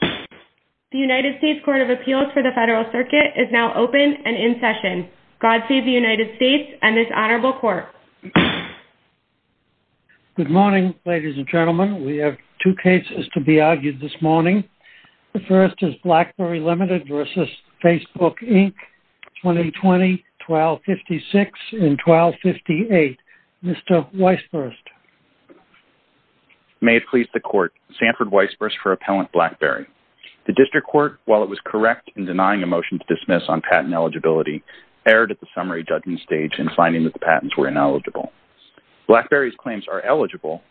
The United States Court of Appeals for the Federal Circuit is now open and in session. God save the United States and this honorable court. Good morning, ladies and gentlemen. We have two cases to be argued this morning. The first is BlackBerry Limited v. Facebook, Inc., 2020-12-56 and 12-58. Mr. Weisburst. May it please the court, Sanford Weisburst for Appellant BlackBerry. The district court, while it was correct in denying a motion to dismiss on patent eligibility, erred at the summary judgment stage in finding that the patents were ineligible. BlackBerry's claims are eligible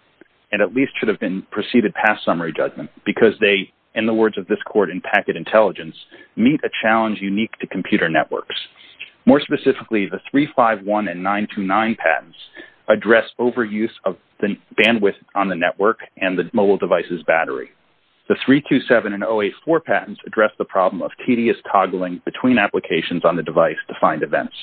and at least should have been preceded past summary judgment because they, in the words of this court in Packet Intelligence, meet a challenge unique to computer networks. More specifically, the 351 and 929 patents address overuse of the bandwidth on the network and the mobile device's battery. The 327 and 084 patents address the problem of tedious toggling between applications on the device to find events.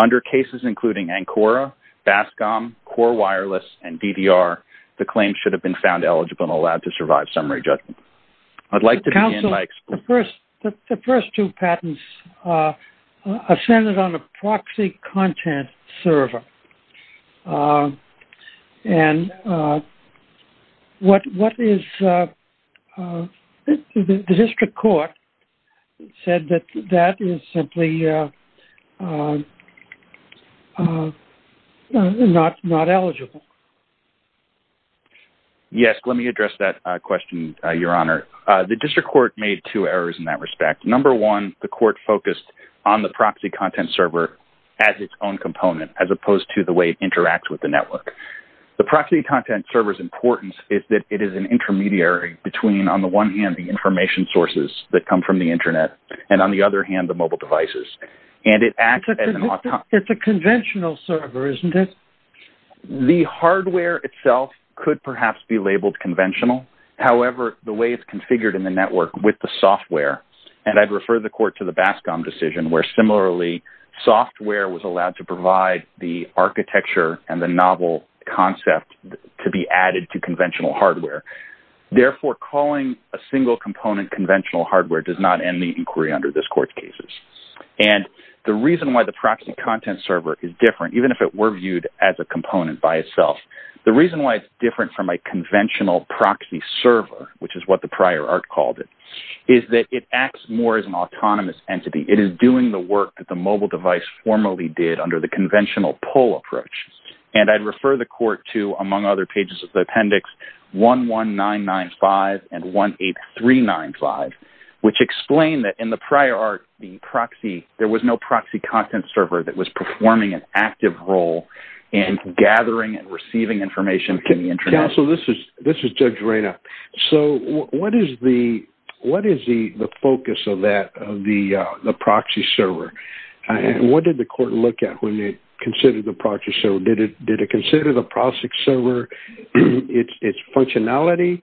Under cases including Ancora, Bascom, Core Wireless, and DDR, the claims should have been found eligible and allowed to survive summary judgment. I'd like to begin by excluding... The first two patents ascended on a proxy content server. The district court said that that is simply not eligible. Yes, let me address that question, Your Honor. The district court made two errors in that respect. Number one, the court focused on the proxy content server as its own component as opposed to the way it interacts with the network. The proxy content server's importance is that it is an intermediary between, on the one hand, the information sources that come from the internet, and on the other hand, the mobile devices. And it acts as an... It's a conventional server, isn't it? The hardware itself could perhaps be labeled conventional. However, the way it's configured in the network with the software... And I'd refer the court to the Bascom decision where, similarly, software was allowed to provide the architecture and the novel concept to be added to conventional hardware. Therefore, calling a single component conventional hardware does not end the inquiry under this court's cases. And the reason why the proxy content server is different, even if it viewed as a component by itself, the reason why it's different from a conventional proxy server, which is what the prior art called it, is that it acts more as an autonomous entity. It is doing the work that the mobile device formally did under the conventional pull approach. And I'd refer the court to, among other pages of the appendix, 11995 and 18395, which explain that in the prior art, there was no proxy content server that was performing an active role in gathering and receiving information from the internet. Counsel, this is Judge Reyna. So what is the focus of the proxy server? And what did the court look at when they considered the proxy server? Did it consider the proxy server, its functionality?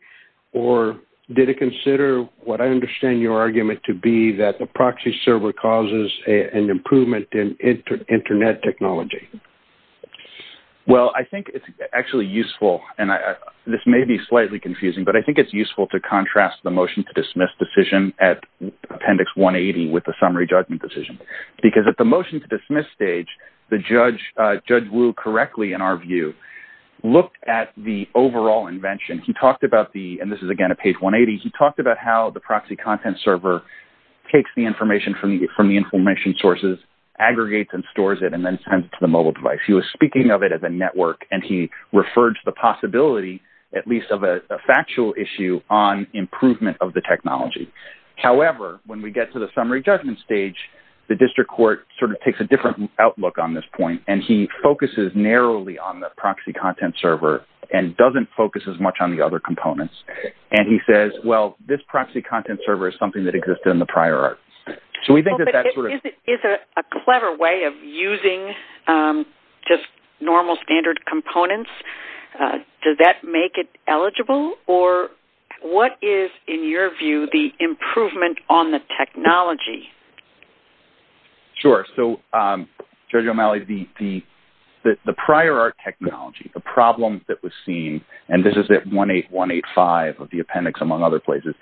Or did it consider, what I understand your argument to be, that the proxy server causes an improvement in internet technology? Well, I think it's actually useful, and this may be slightly confusing, but I think it's useful to contrast the motion to dismiss decision at appendix 180 with the summary judgment decision. Because at the motion to dismiss stage, the judge, Judge Wu, correctly, in our view, looked at the overall invention. He talked about the, and this is again at page 180, he talked about how the proxy content server takes the information from the information sources, aggregates and stores it, and then sends it to the mobile device. He was speaking of it as a network, and he referred to the possibility, at least of a factual issue, on improvement of the technology. However, when we get to the summary judgment stage, the district court sort of takes a different outlook on this point. And he focuses narrowly on the proxy content server and doesn't focus as much on the other components. And he says, well, this proxy content server is something that existed in the prior art. So we think that that's sort of... Is it a clever way of using just normal standard components? Does that make it eligible? Or what is, in your view, the improvement on the technology? Sure. So, Judge O'Malley, the prior art technology, the problem that was seen, and this is at 18185 of the appendix, among other places,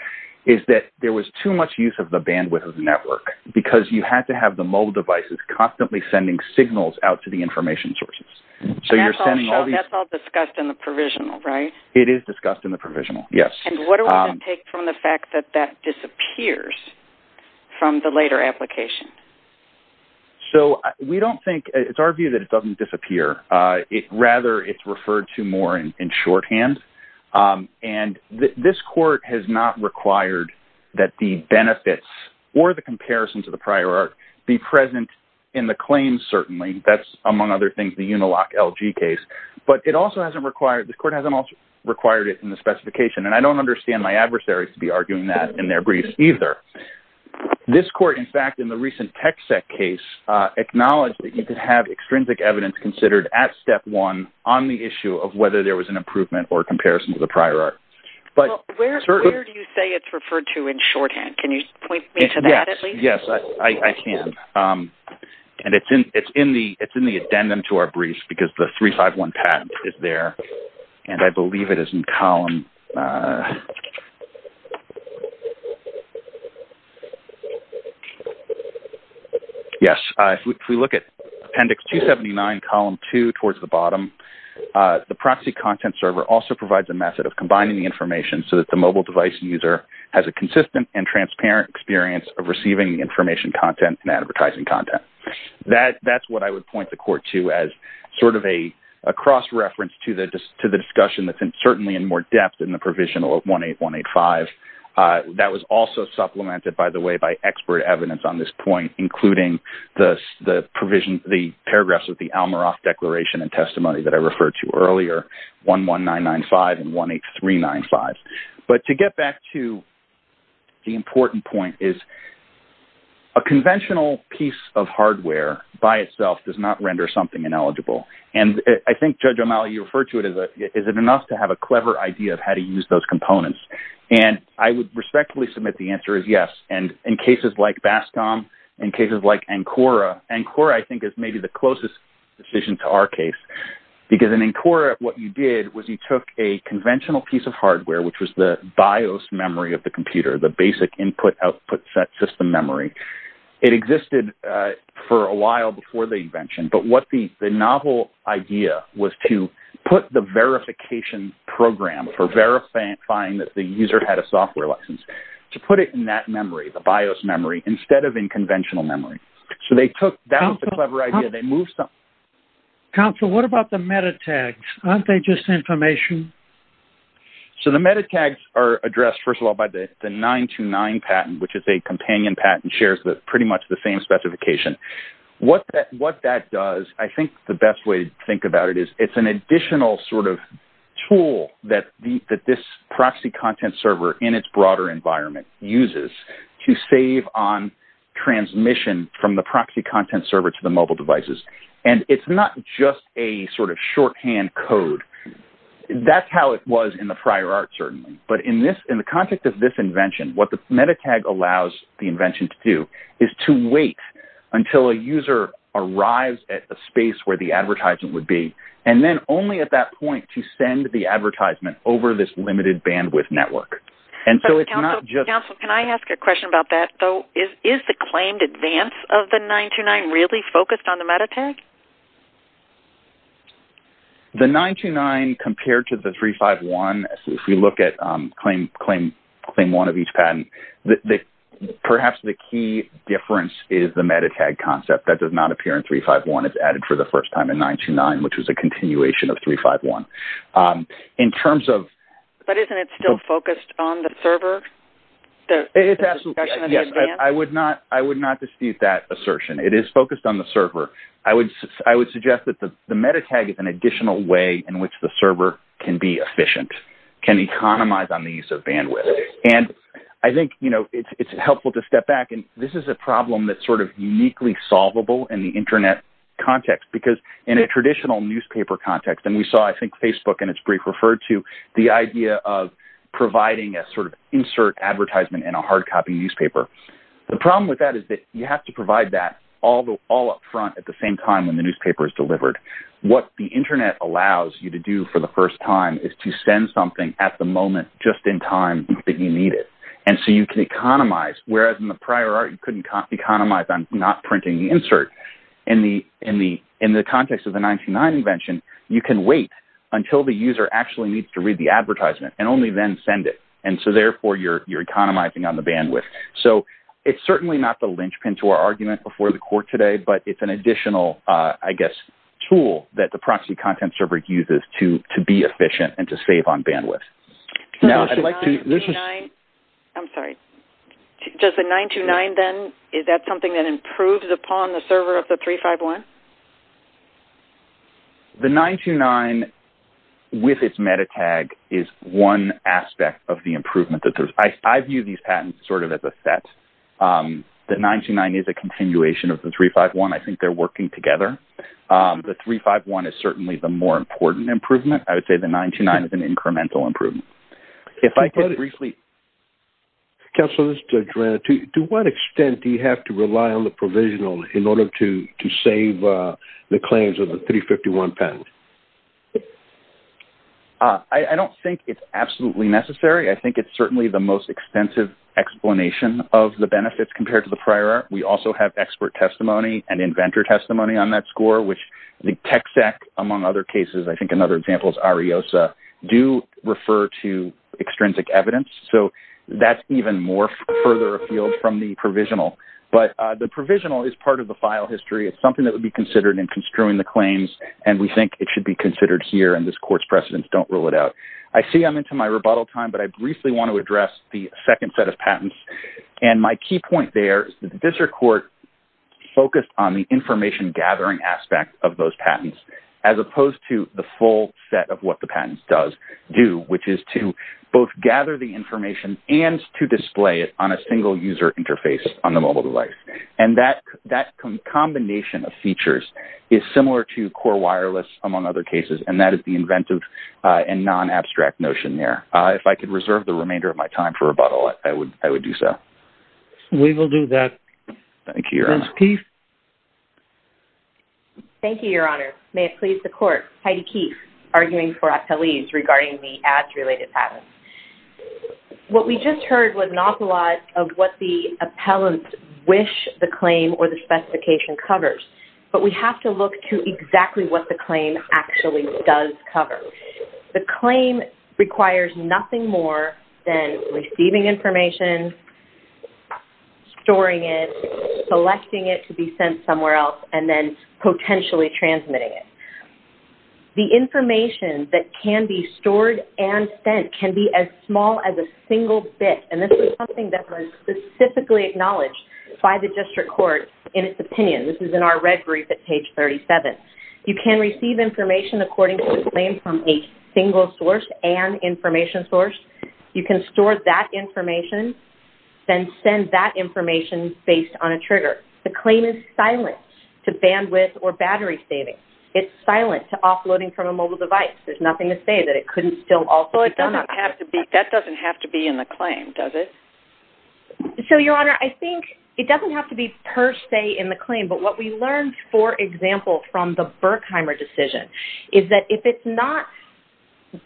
is that there was too much use of the bandwidth of the network, because you had to have the mobile devices constantly sending signals out to the information sources. So you're sending all these... That's all discussed in the provisional, right? It is discussed in the provisional, yes. And what does that take from the fact that that disappears from the later application? So we don't think... It's our view that it doesn't disappear. Rather, it's referred to more in shorthand. And this court has not required that the benefits or the comparison to the prior art be present in the claims, certainly. That's, among other things, the Uniloc LG case. But the court hasn't also required it in the specification. And I don't understand my adversaries to be arguing that in their briefs either. This court, in fact, in the recent Tech Sec case, acknowledged that you could have extrinsic evidence considered at step one on the issue of whether there was an improvement or comparison to the prior art. But where do you say it's referred to in shorthand? Can you point me to that at least? Yes, I can. And it's in the addendum to our briefs because the 351 patent is there. And I believe it is in column... Yes. If we look at Appendix 279, Column 2, towards the bottom, the proxy content server also provides a method of combining the information so that the mobile user has a consistent and transparent experience of receiving the information content and advertising content. That's what I would point the court to as sort of a cross-reference to the discussion that's certainly in more depth in the Provisional 18185. That was also supplemented, by the way, by expert evidence on this point, including the paragraphs of the Almorof Declaration and to the important point is a conventional piece of hardware by itself does not render something ineligible. And I think, Judge O'Malley, you referred to it as is it enough to have a clever idea of how to use those components? And I would respectfully submit the answer is yes. And in cases like BASCOM, in cases like ANCORA, ANCORA, I think, is maybe the closest decision to our case. Because in ANCORA, what you did was you took a conventional piece of hardware, which was the BIOS memory of the computer, the basic input-output set system memory. It existed for a while before the invention, but what the novel idea was to put the verification program for verifying that the user had a software license, to put it in that memory, the BIOS memory, instead of in conventional memory. So they took that was a clever idea. Counsel, what about the metatags? Aren't they just information? So the metatags are addressed, first of all, by the 929 patent, which is a companion patent shares pretty much the same specification. What that does, I think the best way to think about it is it's an additional sort of tool that this proxy content server in its broader environment uses to save on transmission from the proxy content server to the mobile devices. And it's not just a sort of shorthand code. That's how it was in the prior art, certainly. But in the context of this invention, what the metatag allows the invention to do is to wait until a user arrives at a space where the advertisement would be, and then only at that point to send the advertisement over this limited bandwidth network. And so it's not just... Counsel, can I ask a question about that, though? Is the claimed advance of the 929 really focused on the metatag? The 929 compared to the 351, if we look at claim one of each patent, perhaps the key difference is the metatag concept. That does not appear in 351. It's added for the first time in 929, which was a continuation of 351. In terms of... But isn't it still focused on the server? It's absolutely. Yes, I would not dispute that assertion. It is on the server. I would suggest that the metatag is an additional way in which the server can be efficient, can economize on the use of bandwidth. And I think it's helpful to step back. And this is a problem that's sort of uniquely solvable in the internet context. Because in a traditional newspaper context, and we saw, I think, Facebook in its brief referred to the idea of providing a sort of insert advertisement in a hard copy newspaper. The problem with that is that you have to provide that all up front at the same time when the newspaper is delivered. What the internet allows you to do for the first time is to send something at the moment, just in time that you need it. And so you can economize. Whereas in the prior art, you couldn't economize on not printing the insert. In the context of the 929 invention, you can wait until the user actually needs to read the advertisement and only then send it. And so therefore, you're economizing on the bandwidth. So it's certainly not the argument before the court today, but it's an additional, I guess, tool that the proxy content server uses to be efficient and to save on bandwidth. Now, I'd like to... I'm sorry. Does the 929 then, is that something that improves upon the server of the 351? The 929 with its meta tag is one aspect of the improvement that there's... I view these patents sort of as a set. The 929 is a continuation of the 351. I think they're working together. The 351 is certainly the more important improvement. I would say the 929 is an incremental improvement. If I could briefly... Counselor, this is to Joanna. To what extent do you have to rely on the provisional in order to save the claims of the 351 patent? I don't think it's absolutely necessary. I think it's certainly the most extensive explanation of the benefits compared to the prior. We also have expert testimony and inventor testimony on that score, which the TECSEC, among other cases, I think another example is Ariosa, do refer to extrinsic evidence. So that's even more further afield from the provisional. But the provisional is part of the file history. It's something that would be considered in here and this court's precedents don't rule it out. I see I'm into my rebuttal time, but I briefly want to address the second set of patents. And my key point there is that the district court focused on the information gathering aspect of those patents as opposed to the full set of what the patents do, which is to both gather the information and to display it on a single user interface on the mobile device. And that combination of features is similar to core wireless, among other cases. And that is the inventive and non-abstract notion there. If I could reserve the remainder of my time for rebuttal, I would do so. We will do that. Thank you, Your Honor. Ms. Keefe. Thank you, Your Honor. May it please the court. Heidi Keefe, arguing for appellees regarding the ads-related patents. What we just heard was an opulence of what the appellant wish the claim or the specification covers. But we have to look to exactly what the claim actually does cover. The claim requires nothing more than receiving information, storing it, selecting it to be sent somewhere else, and then potentially transmitting it. The information that can be stored and sent can be as small as a single bit. And this is something that was specifically acknowledged by the district court in its opinion. This is in our red brief at page 37. You can receive information according to the claim from a single source and information source. You can store that information, then send that information based on a trigger. The claim is silent to bandwidth or battery savings. It's silent to offloading from a mobile device. There's nothing to say that it couldn't still also- Well, that doesn't have to be in the claim, does it? So, Your Honor, I think it doesn't have to be per se in the claim. But what we learned, for example, from the Berkheimer decision is that if it's not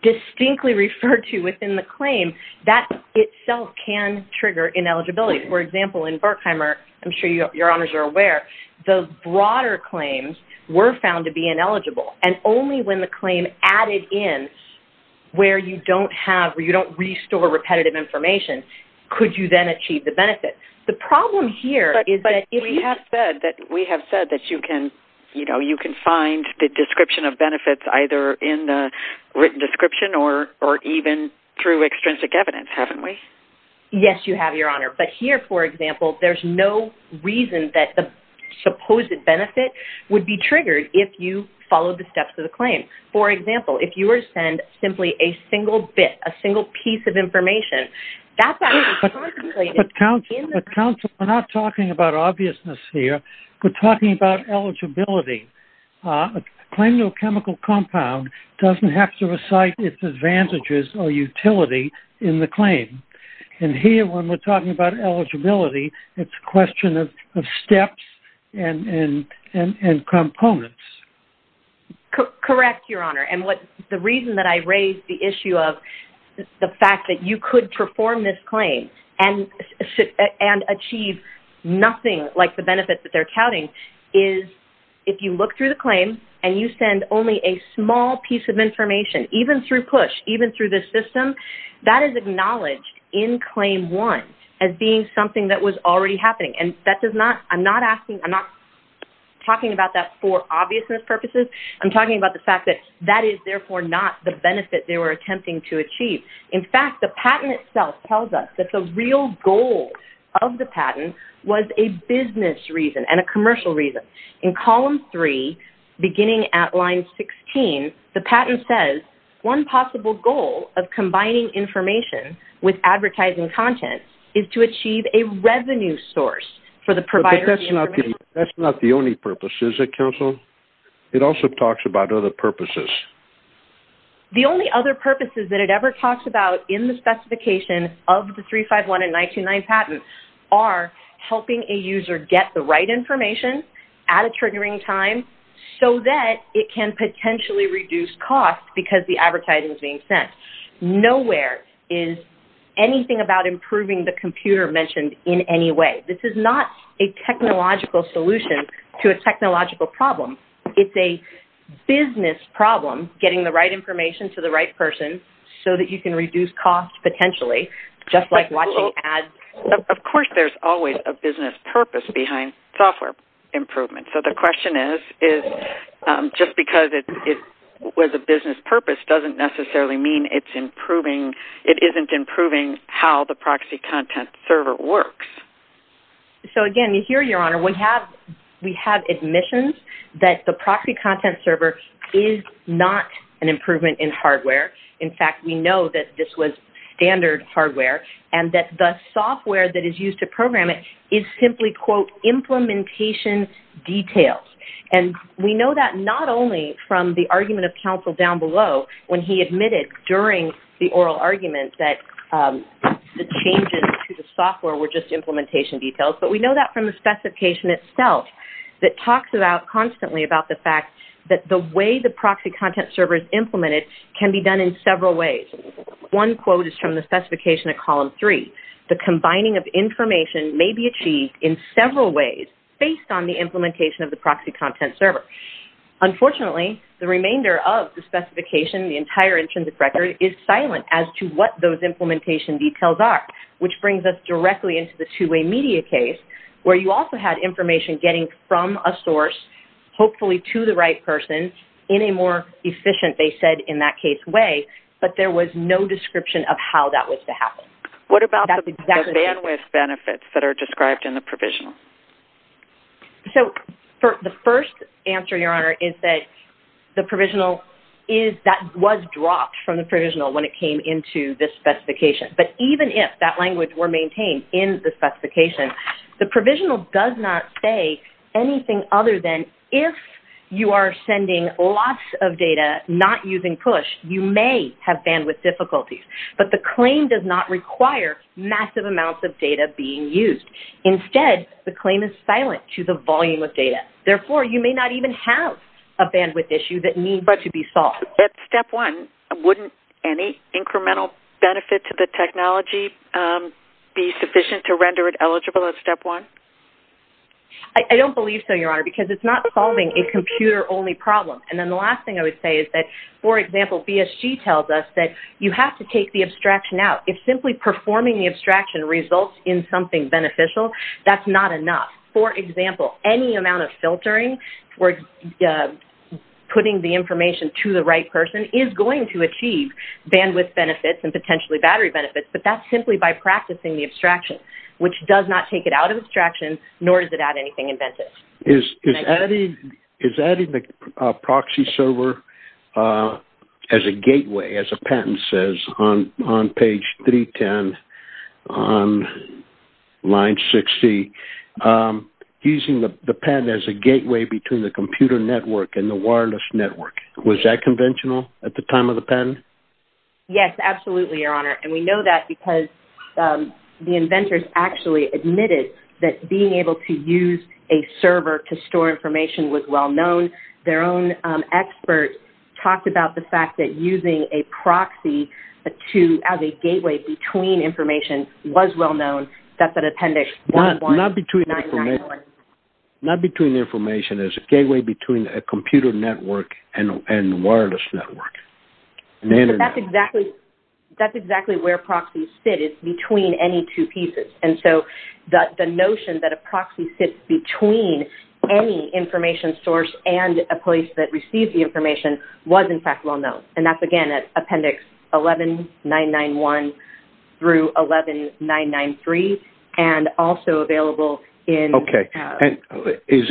distinctly referred to within the claim, that itself can trigger ineligibility. For example, in Berkheimer, I'm sure Your Honors are aware, the broader claims were found to be ineligible. And only when the claim added in where you don't restore repetitive information could you then achieve the benefit. The problem here is that- But we have said that you can find the description of benefits either in the written description or even through extrinsic evidence, haven't we? Yes, You have, Your Honor. But here, for example, there's no reason that the supposed benefit would be triggered if you followed the steps of the claim. For example, if you were to send simply a single bit, a single piece of information, that's actually contemplated- But counsel, we're not talking about obviousness here. We're talking about eligibility. A claim to a chemical compound doesn't have to recite its advantages or utility in the claim. And here, when we're talking about eligibility, it's a question of steps and components. Correct, Your Honor. And the reason that I raised the issue of the fact that you could perform this claim and achieve nothing like the benefits that they're counting is if you look through the claim and you send only a small piece of information, even through PUSH, even through this system, that is acknowledged in claim one as being something that was already happening. And I'm not talking about that for obviousness purposes. I'm talking about the fact that that is therefore not the benefit they were attempting to achieve. In fact, the patent itself tells us that the real goal of the patent was a business reason and a commercial reason. In column three, beginning at line 16, the patent says, one possible goal of combining information with advertising content is to achieve a revenue source for the provider. But that's not the only purpose, is it, counsel? It also talks about other purposes. The only other purposes that it ever talks about in the specification of the 351 and 929 patent are helping a user get the right information at a triggering time so that it can potentially reduce cost because the advertising is being sent. Nowhere is anything about improving the computer mentioned in any way. This is not a technological solution to a technological problem. It's a business problem, getting the right information to the right person so that you can reduce cost potentially, just like watching ads. Of course, there's always a business purpose behind software improvement. So the question is, just because it was a business purpose doesn't necessarily mean it's improving, it isn't improving how the proxy content server works. So again, here, Your Honor, we have admissions that the proxy content server is not an improvement in hardware. In fact, we know that this was standard hardware and that the software that we know that not only from the argument of counsel down below when he admitted during the oral argument that the changes to the software were just implementation details, but we know that from the specification itself that talks about constantly about the fact that the way the proxy content server is implemented can be done in several ways. One quote is from the specification of column three, the combining of information may be Unfortunately, the remainder of the specification, the entire intrinsic record is silent as to what those implementation details are, which brings us directly into the two-way media case, where you also had information getting from a source, hopefully to the right person, in a more efficient, they said, in that case way, but there was no description of how that was to happen. What about the bandwidth benefits that are described in the provisional? So, the first answer, Your Honor, is that the provisional is that was dropped from the provisional when it came into this specification, but even if that language were maintained in the specification, the provisional does not say anything other than if you are sending lots of data not using push, you may have bandwidth difficulties, but the claim does not require massive amounts of data being used. Instead, the claim is silent to the volume of data. Therefore, you may not even have a bandwidth issue that needs to be solved. At step one, wouldn't any incremental benefit to the technology be sufficient to render it eligible at step one? I don't believe so, Your Honor, because it's not solving a computer-only problem, and then the last thing I would say is that, for example, BSG tells us that you have to the abstraction out. If simply performing the abstraction results in something beneficial, that's not enough. For example, any amount of filtering for putting the information to the right person is going to achieve bandwidth benefits and potentially battery benefits, but that's simply by practicing the abstraction, which does not take it out of abstraction, nor does it add anything inventive. Is adding the proxy server as a gateway, as a patent says on page 310 on line 60, using the patent as a gateway between the computer network and the wireless network, was that conventional at the time of the patent? Yes, absolutely, Your Honor, and we know that because the inventors actually admitted that being able to use a server to store information was well-known. Their own expert talked about the fact that using a proxy as a gateway between information was well-known. That's an appendix. Not between information. There's a gateway between a computer network and a wireless network. That's exactly where proxies sit. It's between any two pieces, and so the notion that a proxy sits between any information source and a place that receives the information was, in fact, well-known. That's, again, at appendix 11991 through 11993, and also available in... Okay. Does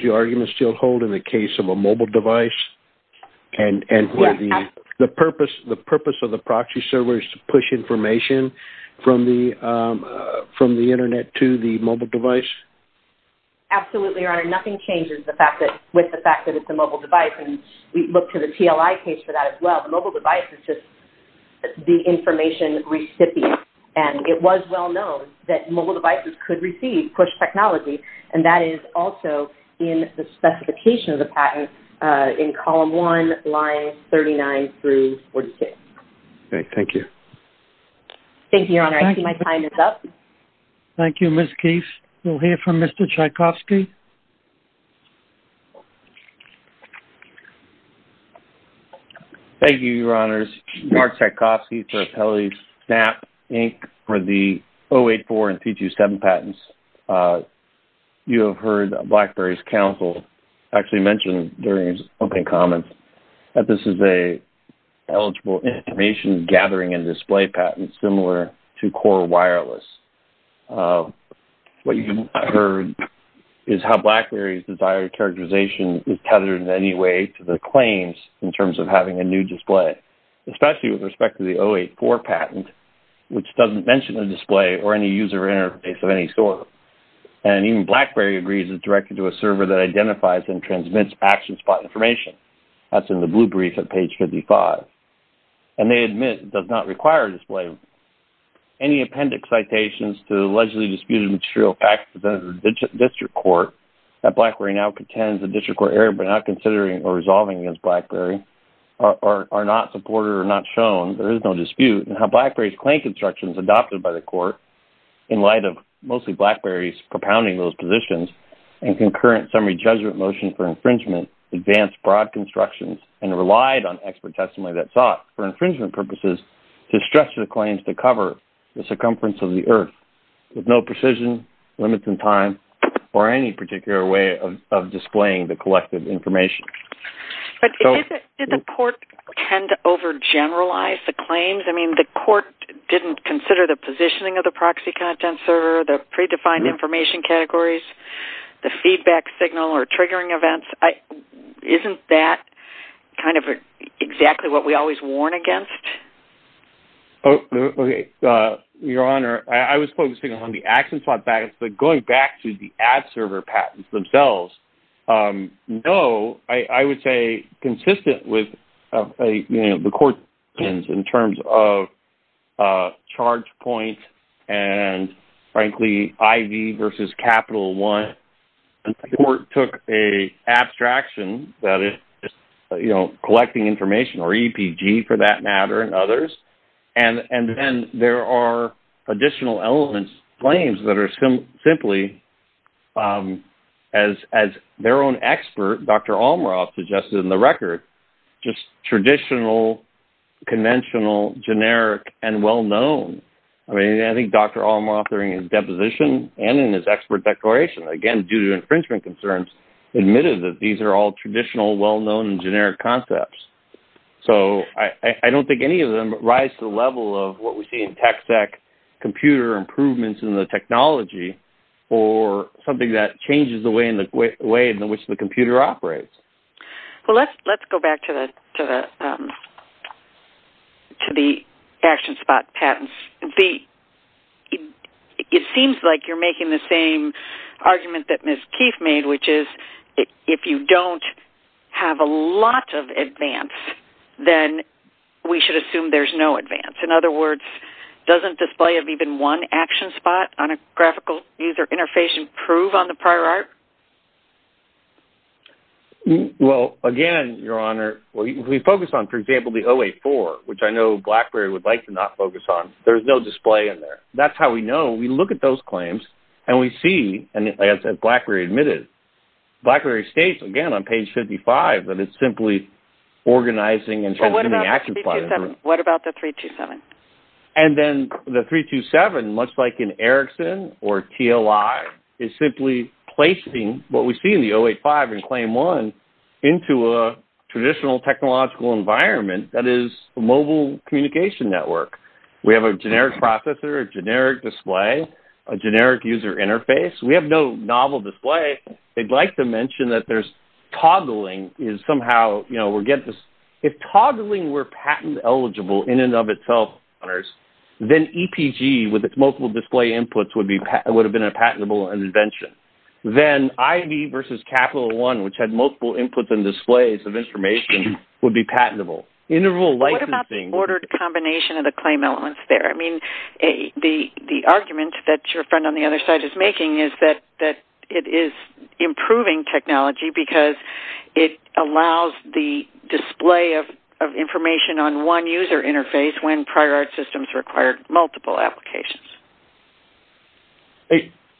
your argument still hold in the case of a mobile device, and the purpose of the proxy server is to push information from the Internet to the mobile device? Absolutely, Your Honor. Nothing changes with the fact that it's a mobile device, and we look to the TLI case for that as well. The mobile device is just the information recipient, and it was well-known that mobile devices could receive push technology, and that is also in the column 1, lines 39 through 46. Okay. Thank you. Thank you, Your Honor. I see my time is up. Thank you, Ms. Keith. We'll hear from Mr. Tchaikovsky. Thank you, Your Honors. Mark Tchaikovsky for Appellate Snap, Inc., for the 084 and T27 patents. You have heard BlackBerry's counsel actually mention during his opening comments that this is an eligible information-gathering and display patent similar to Core Wireless. What you have heard is how BlackBerry's desired characterization is tethered in any way to the claims in terms of having a new display, especially with respect to the 084 patent, which doesn't mention a display or any user interface of any sort. And even BlackBerry agrees it's directed to a server that identifies and transmits action spot information. That's in the blue brief at page 55. And they admit it does not require a display. Any appendix citations to the allegedly disputed material facts presented to the district court that BlackBerry now contends the district court error by not considering or resolving against BlackBerry are not supported or not shown. There is no in light of mostly BlackBerry's propounding those positions and concurrent summary judgment motion for infringement advanced broad constructions and relied on expert testimony that sought for infringement purposes to stretch the claims to cover the circumference of the earth with no precision, limits in time, or any particular way of displaying the collective information. But did the court tend to overgeneralize the claims? I mean, the court didn't consider the proxy content server, the predefined information categories, the feedback signal or triggering events. Isn't that kind of exactly what we always warn against? Oh, okay. Your Honor, I was focusing on the action spot patents. But going back to the ad server patents themselves, no, I would say consistent with, you know, the court in terms of charge point and frankly IV versus capital one, the court took an abstraction that is, you know, collecting information or EPG for that matter and others. And then there are additional elements, claims that are simply as their own expert, Dr. Almoroff suggested in the conventional generic and well-known. I mean, I think Dr. Almoroff during his deposition and in his expert declaration, again, due to infringement concerns, admitted that these are all traditional, well-known and generic concepts. So I don't think any of them rise to the level of what we see in tech sec computer improvements in the technology or something that changes the way in which the to the action spot patents. It seems like you're making the same argument that Ms. Keefe made, which is if you don't have a lot of advance, then we should assume there's no advance. In other words, doesn't display of even one action spot on a graphical user interface improve on the prior art? Well, again, Your Honor, we focus on, for example, the 084, which I know BlackBerry would like to not focus on. There's no display in there. That's how we know. We look at those claims and we see, and as BlackBerry admitted, BlackBerry states again on page 55 that it's simply organizing and changing the action plan. What about the 327? And then the 327, much like in Erickson or TLI, is simply placing what we see in the 085 and Claim 1 into a traditional technological environment that is a mobile communication network. We have a generic processor, a generic display, a generic user interface. We have no novel display. They'd like to mention that there's toggling is somehow, you know, we're getting this. If toggling were patent eligible in and of itself, then EPG with its multiple display inputs would have been a patentable invention. Then IV versus Capital One, which had multiple inputs and displays of information, would be patentable. Interval licensing... What about the ordered combination of the claim elements there? I mean, the argument that your friend on the other side is making is that it is improving technology because it allows the display of information on one user interface when prior art systems required multiple applications.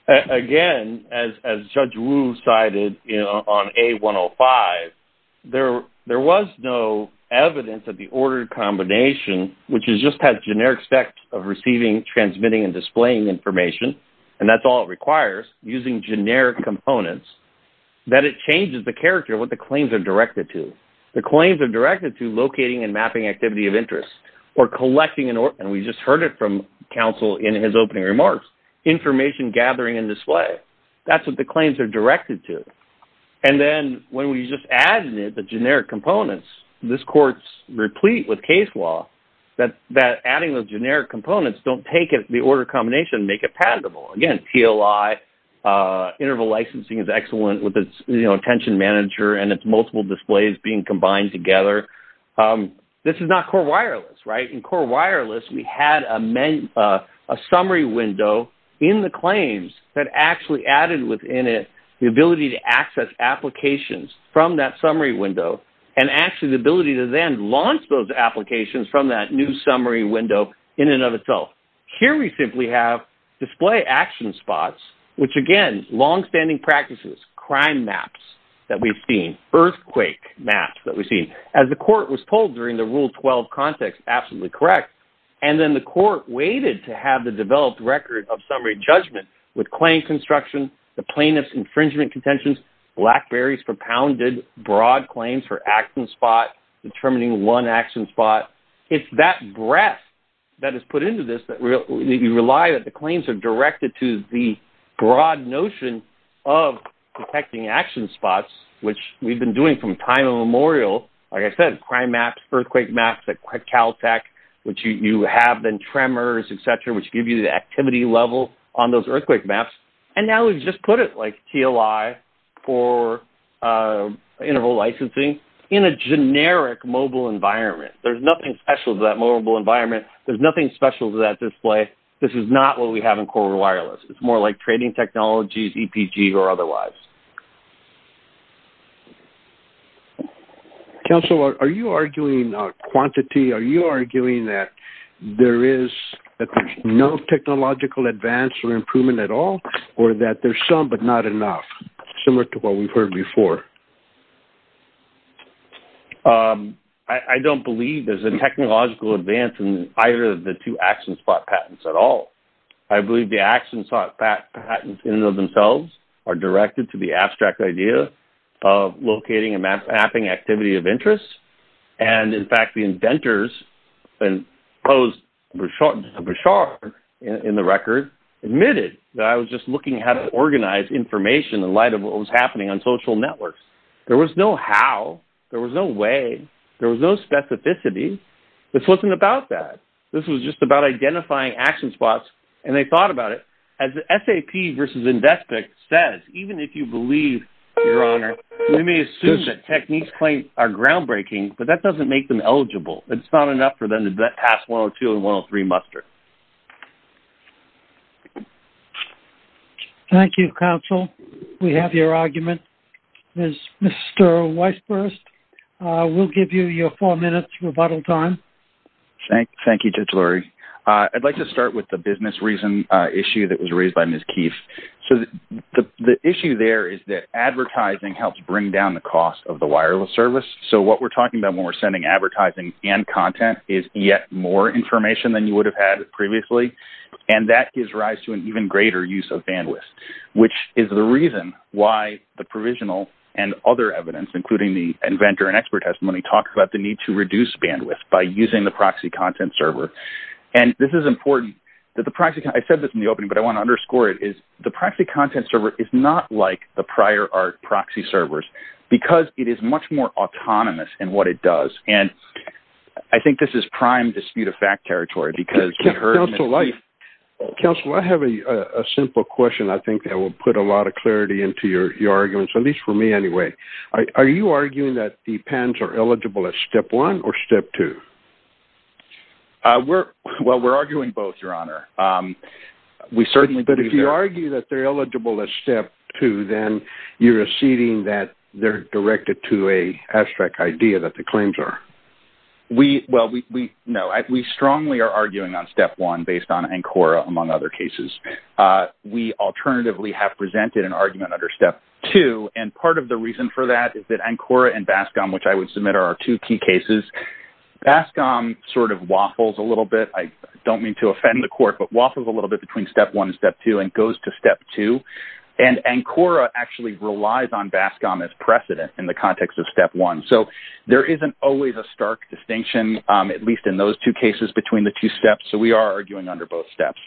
Again, as Judge Wu cited on A105, there was no evidence of the ordered combination, which just has generic specs of receiving, transmitting, and displaying information, and that's all it requires, using generic components, that it changes the character of what the claims are directed to. The claims are directed to collecting and mapping activity of interest or collecting... And we just heard it from counsel in his opening remarks, information gathering and display. That's what the claims are directed to. And then when we just add in the generic components, this court's replete with case law that adding those generic components don't take the ordered combination and make it patentable. Again, TLI, interval licensing is excellent with its, you know, attention manager and its multiple displays being combined together. This is not core wireless, right? In core wireless, we had a summary window in the claims that actually added within it the ability to access applications from that summary window and actually the ability to then launch those applications from that new summary window in and of itself. Here we simply have display action spots, which again, longstanding practices, crime maps that we've seen, earthquake maps that we've seen. As the court was told during the Rule 12 context, absolutely correct. And then the court waited to have the developed record of summary judgment with claim construction, the plaintiff's infringement contentions, BlackBerry's propounded broad claims for action spot, determining one action spot. It's that breadth that is put into this that you rely that the claims are directed to the broad notion of detecting action spots, which we've been doing from time immemorial, like I said, crime maps, earthquake maps at Caltech, which you have been tremors, et cetera, which gives you the activity level on those earthquake maps. And now we've just put it like TLI for interval licensing in a generic mobile environment. There's nothing special to that mobile environment. There's nothing special to that display. This is not what we have in core wireless. It's more like trading technologies, EPG or otherwise. Counselor, are you arguing quantity? Are you arguing that there is no technological advance or improvement at all, or that there's some, but not enough similar to what we've heard before? I don't believe there's a technological advance in either of the two action spot patents at all. I believe the action spot patents in and of themselves are directed to the abstract idea of locating and mapping activity of interest. And in fact, the inventors and those in the record admitted that I was just looking at how to organize information in light of what was happening on social networks. There was no how, there was no way, there was no specificity. This wasn't about that. This was just about identifying action spots. And they thought about it as SAP versus Invespik says, even if you believe your honor, we may assume that techniques claim are groundbreaking, but that doesn't make them eligible. It's not enough for them to pass 102 and 103 muster. Thank you, counsel. We have your argument. Mr. Weisburst, we'll give you your four minutes rebuttal time. Thank you, Judge Lurie. I'd like to start with the business reason issue that was raised by Ms. Keith. So the issue there is that advertising helps bring down the cost of the wireless service. So what we're talking about when we're sending advertising and content is yet more information than you would have had previously. And that gives rise to an even greater use of bandwidth, which is the reason why the provisional and other evidence, including the inventor and expert testimony, talks about the need to reduce bandwidth by using the proxy content server. And this is important that the proxy, I said this in the opening, but I want to underscore it is the proxy content server is not like the prior art proxy servers because it is much more autonomous in what it does. And I think this is prime dispute of fact territory because we heard. Counsel, I have a simple question. I think that will put a lot of clarity into your arguments, at least for me anyway. Are you arguing that the pens are eligible as step one or step two? We're well, we're arguing both, your honor. We certainly. But if you argue that they're eligible as step two, then you're receding that they're directed to a abstract idea that the claims are. We well, we know we strongly are arguing on step one based on and Cora, among other cases. We alternatively have presented an argument under step two. And part of the reason for that is that I'm Cora and Bascom, which I would submit are two key cases. Bascom sort of waffles a little bit. I don't mean to offend the court, but waffles a little bit between step one and step two and goes to step two. And Cora actually relies on Bascom as precedent in the context of step one. So there isn't always a stark distinction, at least in those two cases between the two steps. So we are arguing under both steps.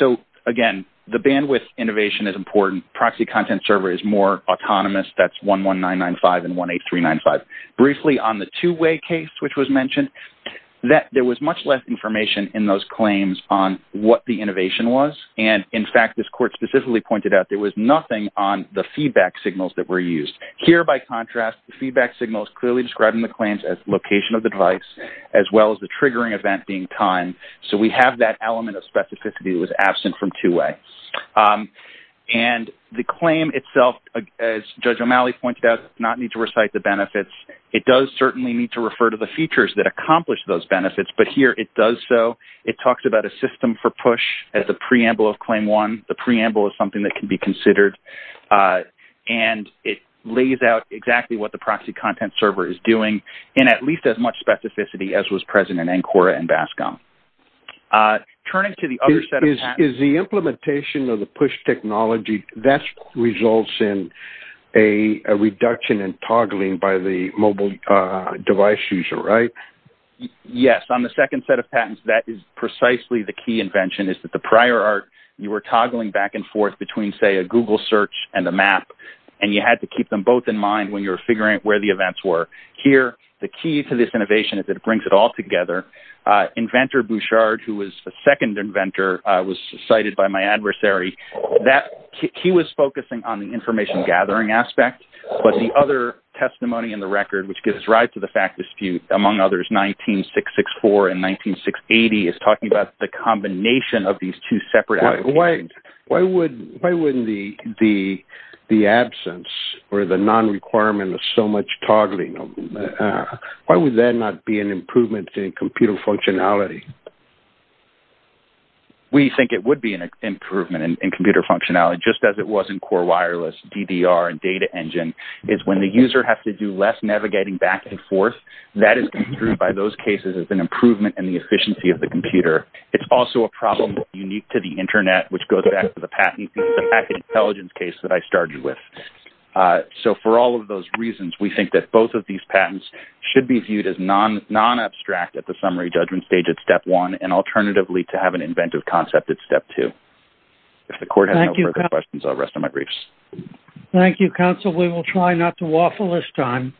So again, the bandwidth innovation is important. Proxy content server is more autonomous. That's 11995 and 18395. Briefly on the two-way case, which was mentioned that there was much less information in those claims on what the innovation was. And in fact, this court specifically pointed out there was nothing on the feedback signals that were used here. By contrast, the feedback signals clearly describing the claims location of the device, as well as the triggering event being time. So we have that element of specificity that was absent from two-way. And the claim itself, as Judge O'Malley pointed out, not need to recite the benefits. It does certainly need to refer to the features that accomplish those benefits, but here it does so. It talks about a system for push at the preamble of claim one. The preamble is something that can be considered. And it lays out exactly what the much specificity as was present in ANCORA and BASCOM. Turning to the other set of patents- Is the implementation of the push technology that results in a reduction in toggling by the mobile device user, right? Yes. On the second set of patents, that is precisely the key invention is that the prior art, you were toggling back and forth between say a Google search and the map. And you had to keep them both in mind when you're this innovation is that it brings it all together. Inventor Bouchard, who was the second inventor, was cited by my adversary. He was focusing on the information gathering aspect, but the other testimony in the record, which gives rise to the fact dispute among others, 19664 and 19680 is talking about the combination of these two separate applications. Why wouldn't the absence or the non-requirement of so much toggling, why would that not be an improvement in computer functionality? We think it would be an improvement in computer functionality, just as it was in core wireless, DDR, and data engine is when the user has to do less navigating back and forth, that is improved by those cases as an improvement in the efficiency of the computer. It's also a problem unique to the internet, which goes back to the patent intelligence case that I started with. So for all of those reasons, we think that both of these patents should be viewed as non-abstract at the summary judgment stage at step one, and alternatively to have an inventive concept at step two. If the court has no further questions, I'll rest on my briefs. Thank you, counsel. We will try not to waffle this time.